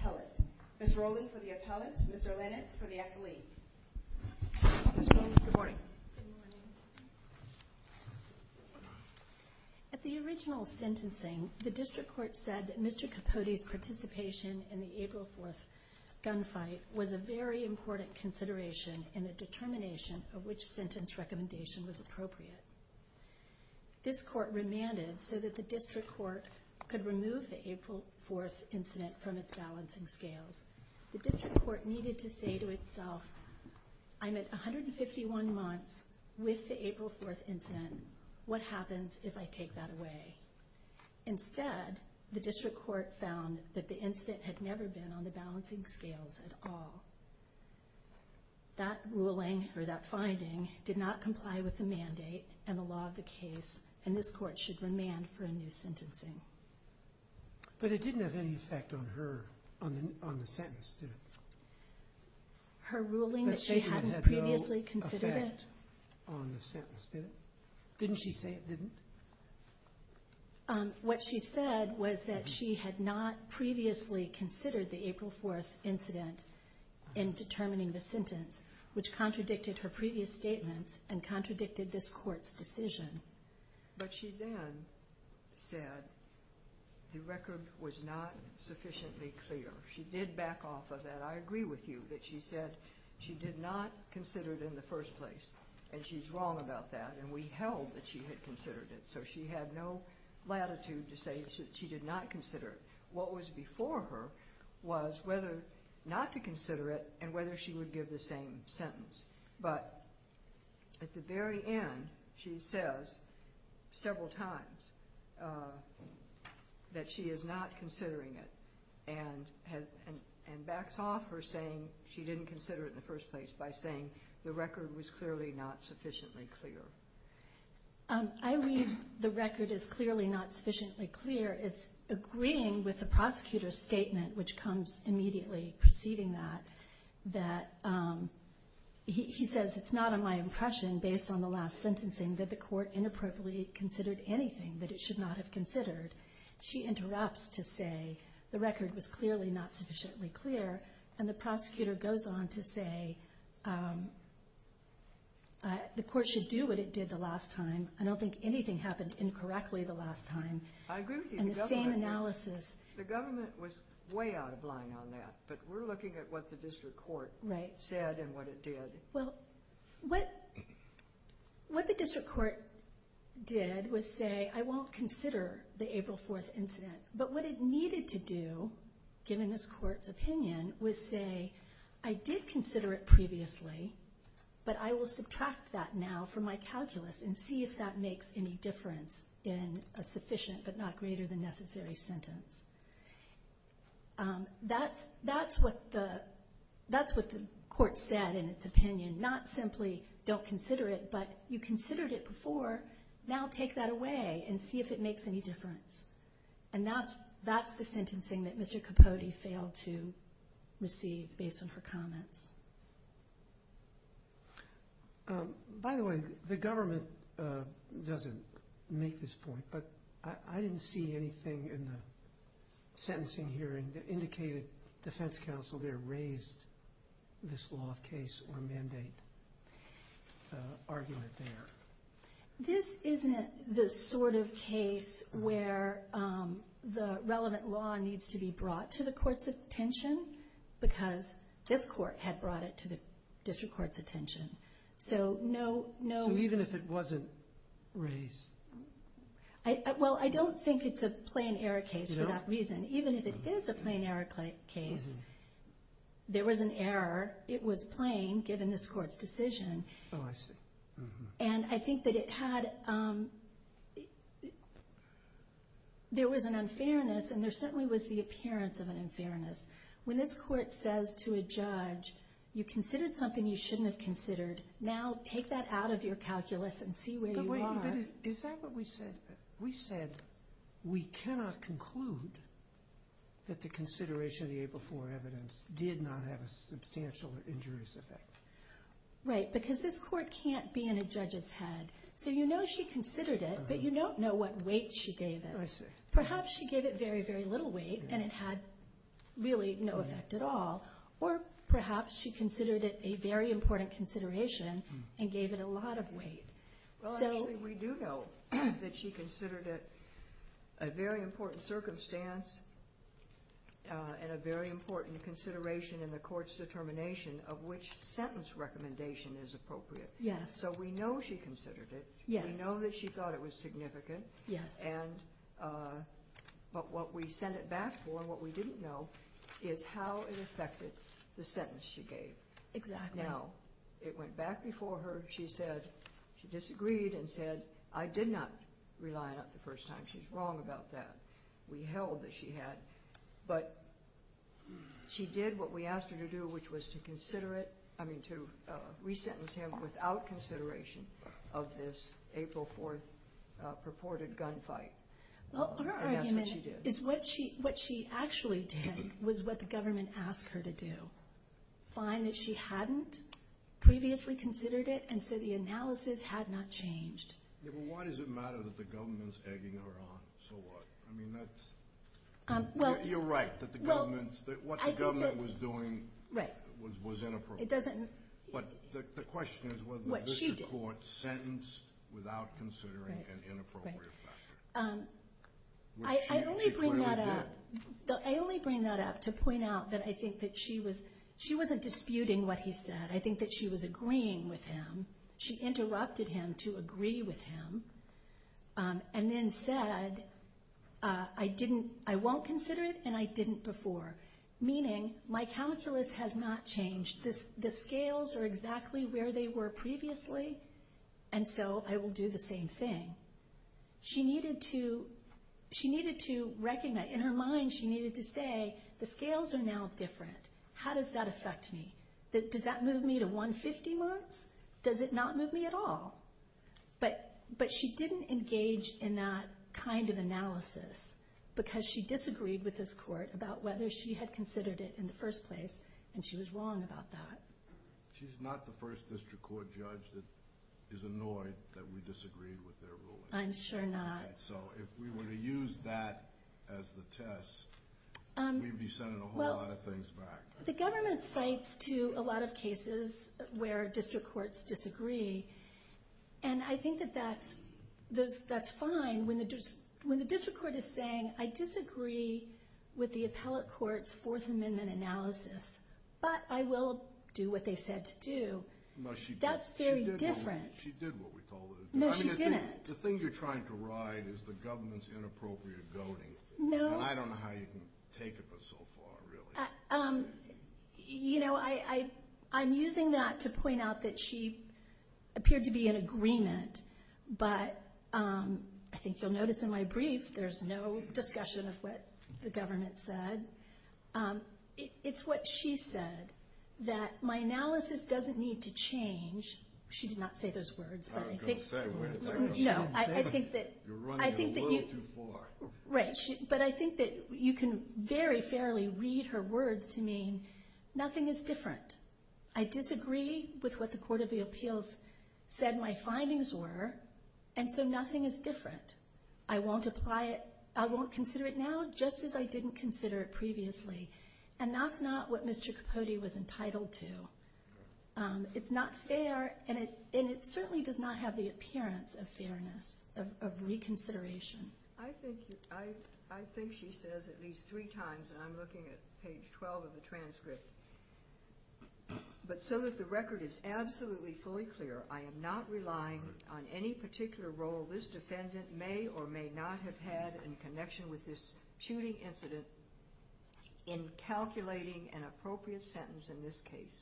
Appellate. Ms. Rowling for the appellate, Mr. Lennox for the accolade. Ms. Rowling, good morning. Good morning. At the original sentencing, the district court said that Mr. Kpodi's participation in the April 4th gunfight was a very important consideration in the determination of which sentence recommendation was appropriate. This court remanded so that the district court could remove the April 4th incident from its balancing scales. The district court needed to say to itself, I'm at 151 months with the April 4th incident. What happens if I take that away? Instead, the district court found that the incident had never been on the balancing scales at all. That ruling, or that finding, did not comply with the mandate and the law of the case, and this court should remand for a new sentencing. But it didn't have any effect on her, on the sentence, did it? Her ruling that she hadn't previously considered it? That she didn't have no effect on the sentence, did it? Didn't she say it didn't? What she said was that she had not previously considered the April 4th incident in determining the sentence, which contradicted her previous statements and contradicted this court's decision. But she then said the record was not sufficiently clear. She did back off of that. I agree with you that she said she did not consider it in the first place, and she's wrong about that, and we held that she had considered it. So she had no latitude to say that she did not consider it. What was before her was whether not to consider it and whether she would give the same sentence. But at the very end, she says several times that she is not considering it, and backs off her saying she didn't consider it in the first place by saying the record was clearly not sufficiently clear. I read the record as clearly not sufficiently clear as agreeing with the prosecutor's statement, which comes immediately preceding that, that he says it's not on my impression based on the last sentencing that the court inappropriately considered anything that it should not have considered. She interrupts to say the record was clearly not sufficiently clear, and the prosecutor goes on to say the court should do what it did the last time. I don't think anything happened incorrectly the last time. I agree with you. The government was way out of line on that, but we're looking at what the district court said and what it did. What the district court did was say, I won't consider the April 4th incident, but what it needed to do, given this court's opinion, was say, I did consider it previously, but I will subtract that now from my calculus and see if that makes any difference in a sufficient but not greater than necessary sentence. That's what the court said in its opinion, not simply don't consider it, but you considered it before, now take that away and see if it makes any difference. That's the sentencing that Mr. Capote failed to receive based on her comments. By the way, the government doesn't make this point, but I didn't see anything in the sentencing hearing that indicated defense counsel there raised this law of case or mandate argument there. This isn't the sort of case where the relevant law needs to be brought to the court's attention because this court had brought it to the district court's attention. Even if it wasn't raised? I don't think it's a plain error case for that reason. Even if it is a plain error case, there was an error. It was plain, given this court's decision. Oh, I see. And I think that it had, there was an unfairness and there certainly was the appearance of an unfairness. When this court says to a judge, you considered something you shouldn't have considered, now take that out of your calculus and see where you are. Is that what we said? We said we cannot conclude that the consideration of the April 4th evidence did not have a substantial injurious effect. Right, because this court can't be in a judge's head. So you know she considered it, but you don't know what weight she gave it. Perhaps she gave it very, very little weight and it had really no effect at all. Or perhaps she considered it a very important consideration and gave it a lot of weight. Well, I think we do know that she considered it a very important circumstance and a very important consideration in the court's determination of which sentence recommendation is appropriate. Yes. So we know she considered it. Yes. We know that she thought it was significant. Yes. And, but what we sent it back for and what we didn't know is how it affected the sentence she gave. Exactly. Now, it went back before her. She said, she disagreed and said, I did not rely on it the first time. She's wrong about that. We held that she had. But she did what we asked her to do, which was to consider it, I mean to resentence him without consideration of this April 4th purported gunfight. Well, her argument is what she actually did was what the government asked her to do. She did not find that she hadn't previously considered it. And so the analysis had not changed. Yeah, but why does it matter that the government's egging her on? So what? I mean, that's. Well. You're right that the government's, that what the government was doing. Right. Was inappropriate. It doesn't. But the question is whether. What she did. The court sentenced without considering an inappropriate factor. Right, right. I only bring that up. She clearly did. I only bring that up to point out that I think that she was, she wasn't disputing what he said. I think that she was agreeing with him. She interrupted him to agree with him. And then said, I didn't, I won't consider it and I didn't before. Meaning, my calculus has not changed. The scales are exactly where they were previously. And so I will do the same thing. She needed to, she needed to recognize, in her mind she needed to say, the scales are now different. How does that affect me? Does that move me to 150 marks? Does it not move me at all? But she didn't engage in that kind of analysis. Because she disagreed with this court about whether she had considered it in the first place. And she was wrong about that. She's not the first district court judge that is annoyed that we disagreed with their ruling. I'm sure not. So if we were to use that as the test, we'd be sending a whole lot of things back. The government cites to a lot of cases where district courts disagree. And I think that that's, that's fine when the district court is saying, I disagree with the appellate court's Fourth Amendment analysis. But I will do what they said to do. That's very different. She did what we told her to do. No, she didn't. The thing you're trying to ride is the government's inappropriate goading. No. And I don't know how you can take it but so far, really. You know, I'm using that to point out that she appeared to be in agreement. But I think you'll notice in my brief there's no discussion of what the government said. It's what she said, that my analysis doesn't need to change. She did not say those words, but I think. I was going to say. No, I think that. You're running a word too far. Right. But I think that you can very fairly read her words to mean nothing is different. I disagree with what the Court of Appeals said my findings were. And so nothing is different. I won't apply it. I won't consider it now just as I didn't consider it previously. And that's not what Mr. Capote was entitled to. It's not fair, and it certainly does not have the appearance of fairness, of reconsideration. I think she says at least three times, and I'm looking at page 12 of the transcript. But so that the record is absolutely fully clear, I am not relying on any particular role this defendant may or may not have had in connection with this shooting incident in calculating an appropriate sentence in this case.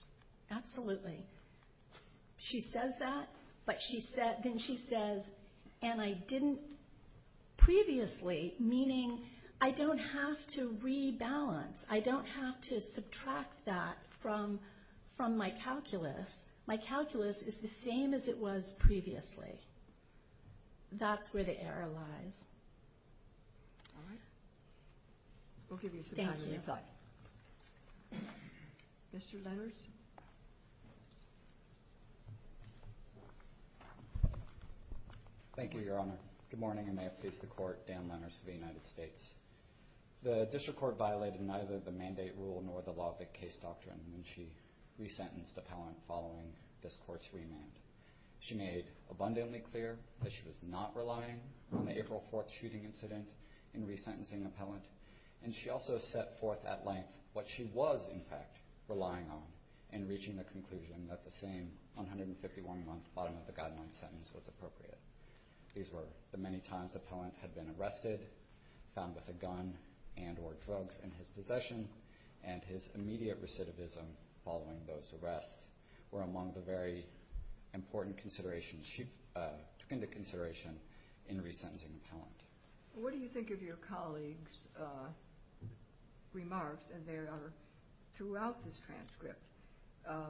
Absolutely. She says that, but then she says, and I didn't previously, meaning I don't have to rebalance. I don't have to subtract that from my calculus. My calculus is the same as it was previously. That's where the error lies. All right. We'll give you some time to reflect. Thank you. Mr. Lenners. Thank you, Your Honor. Good morning, and may it please the Court, Dan Lenners of the United States. The district court violated neither the mandate rule nor the law of the case doctrine when she resentenced the appellant following this court's remand. She made abundantly clear that she was not relying on the April 4th shooting incident in resentencing the appellant, and she also set forth at length what she was, in fact, relying on in reaching the conclusion that the same 151-month bottom-of-the-guideline sentence was appropriate. These were the many times the appellant had been arrested, found with a gun and or drugs in his possession, and his immediate recidivism following those arrests were among the very important considerations she took into consideration in resentencing the appellant. What do you think of your colleague's remarks? And they are throughout this transcript.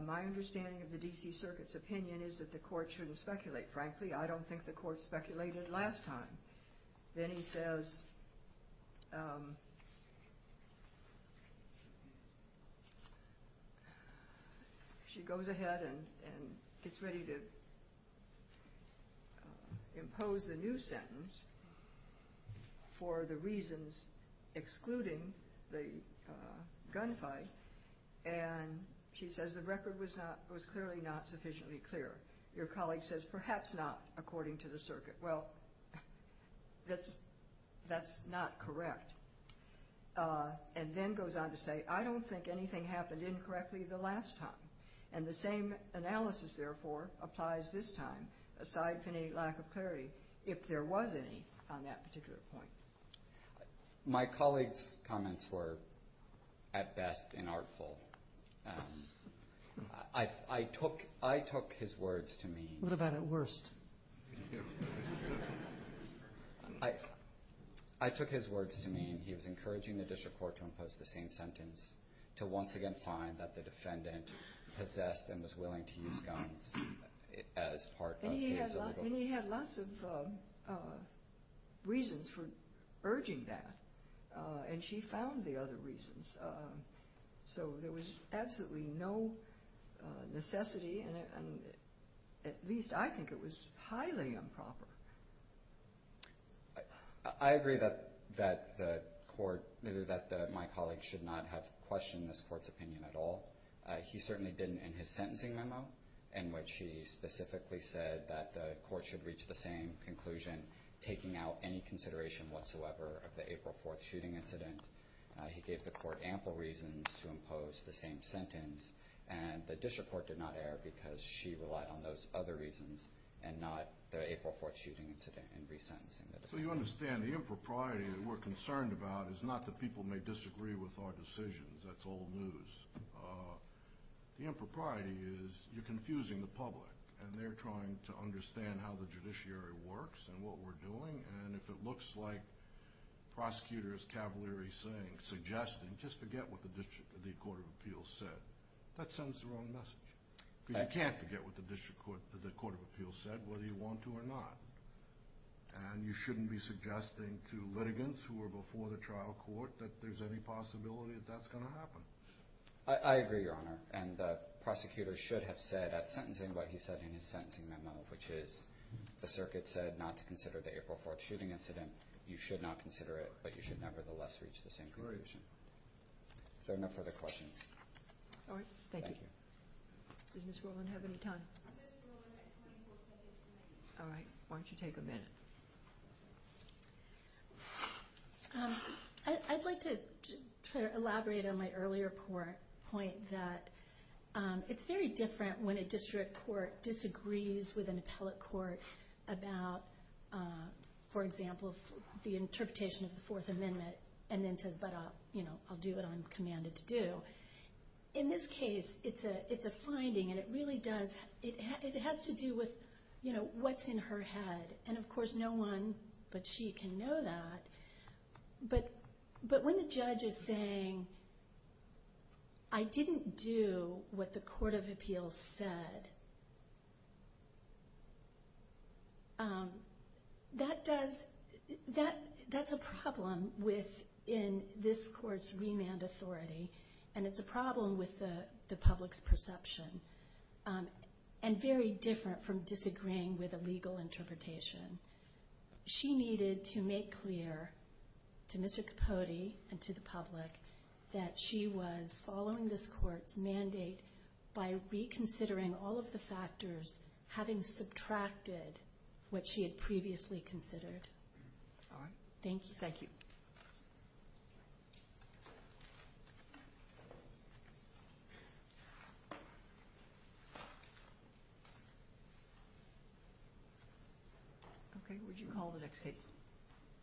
My understanding of the D.C. Circuit's opinion is that the court shouldn't speculate. Frankly, I don't think the court speculated last time. Then he says, she goes ahead and gets ready to impose the new sentence for the reasons excluding the gunfight, and she says the record was clearly not sufficiently clear. Your colleague says, perhaps not, according to the circuit. Well, that's not correct. And then goes on to say, I don't think anything happened incorrectly the last time, and the same analysis, therefore, applies this time, aside from any lack of clarity, if there was any on that particular point. My colleague's comments were, at best, inartful. I took his words to mean... What about at worst? I took his words to mean he was encouraging the district court to impose the same sentence, to once again find that the defendant possessed and was willing to use guns as part of his illegal... And he had lots of reasons for urging that, and she found the other reasons. So there was absolutely no necessity, and at least I think it was highly improper. I agree that my colleague should not have questioned this court's opinion at all. He certainly didn't in his sentencing memo, in which he specifically said that the court should reach the same conclusion, taking out any consideration whatsoever of the April 4th shooting incident. He gave the court ample reasons to impose the same sentence, and the district court did not err because she relied on those other reasons and not the April 4th shooting incident in resentencing. So you understand the impropriety that we're concerned about is not that people may disagree with our decisions. That's old news. The impropriety is you're confusing the public, and they're trying to understand how the judiciary works and what we're doing, and if it looks like prosecutors' cavalry saying, suggesting, just forget what the Court of Appeals said, that sends the wrong message. Because you can't forget what the Court of Appeals said, whether you want to or not. And you shouldn't be suggesting to litigants who were before the trial court that there's any possibility that that's going to happen. I agree, Your Honor, and the prosecutor should have said at sentencing what he said in his sentencing memo, which is the circuit said not to consider the April 4th shooting incident. You should not consider it, but you should nevertheless reach the same conclusion. If there are no further questions. All right. Thank you. Does Ms. Rowland have any time? Ms. Rowland has 24 seconds remaining. All right. Why don't you take a minute? I'd like to try to elaborate on my earlier point that it's very different when a district court disagrees with an appellate court about, for example, the interpretation of the Fourth Amendment, and then says, but I'll do what I'm commanded to do. In this case, it's a finding, and it really does, it has to do with what's in her head. And of course, no one but she can know that. But when the judge is saying, I didn't do what the court of appeals said, that's a problem within this court's remand authority, and it's a problem with the public's perception, and very different from disagreeing with a legal interpretation. She needed to make clear to Mr. Capote and to the public that she was following this court's mandate by reconsidering all of the factors, having subtracted what she had previously considered. All right. Thank you. Thank you. Okay. What did you call the next case?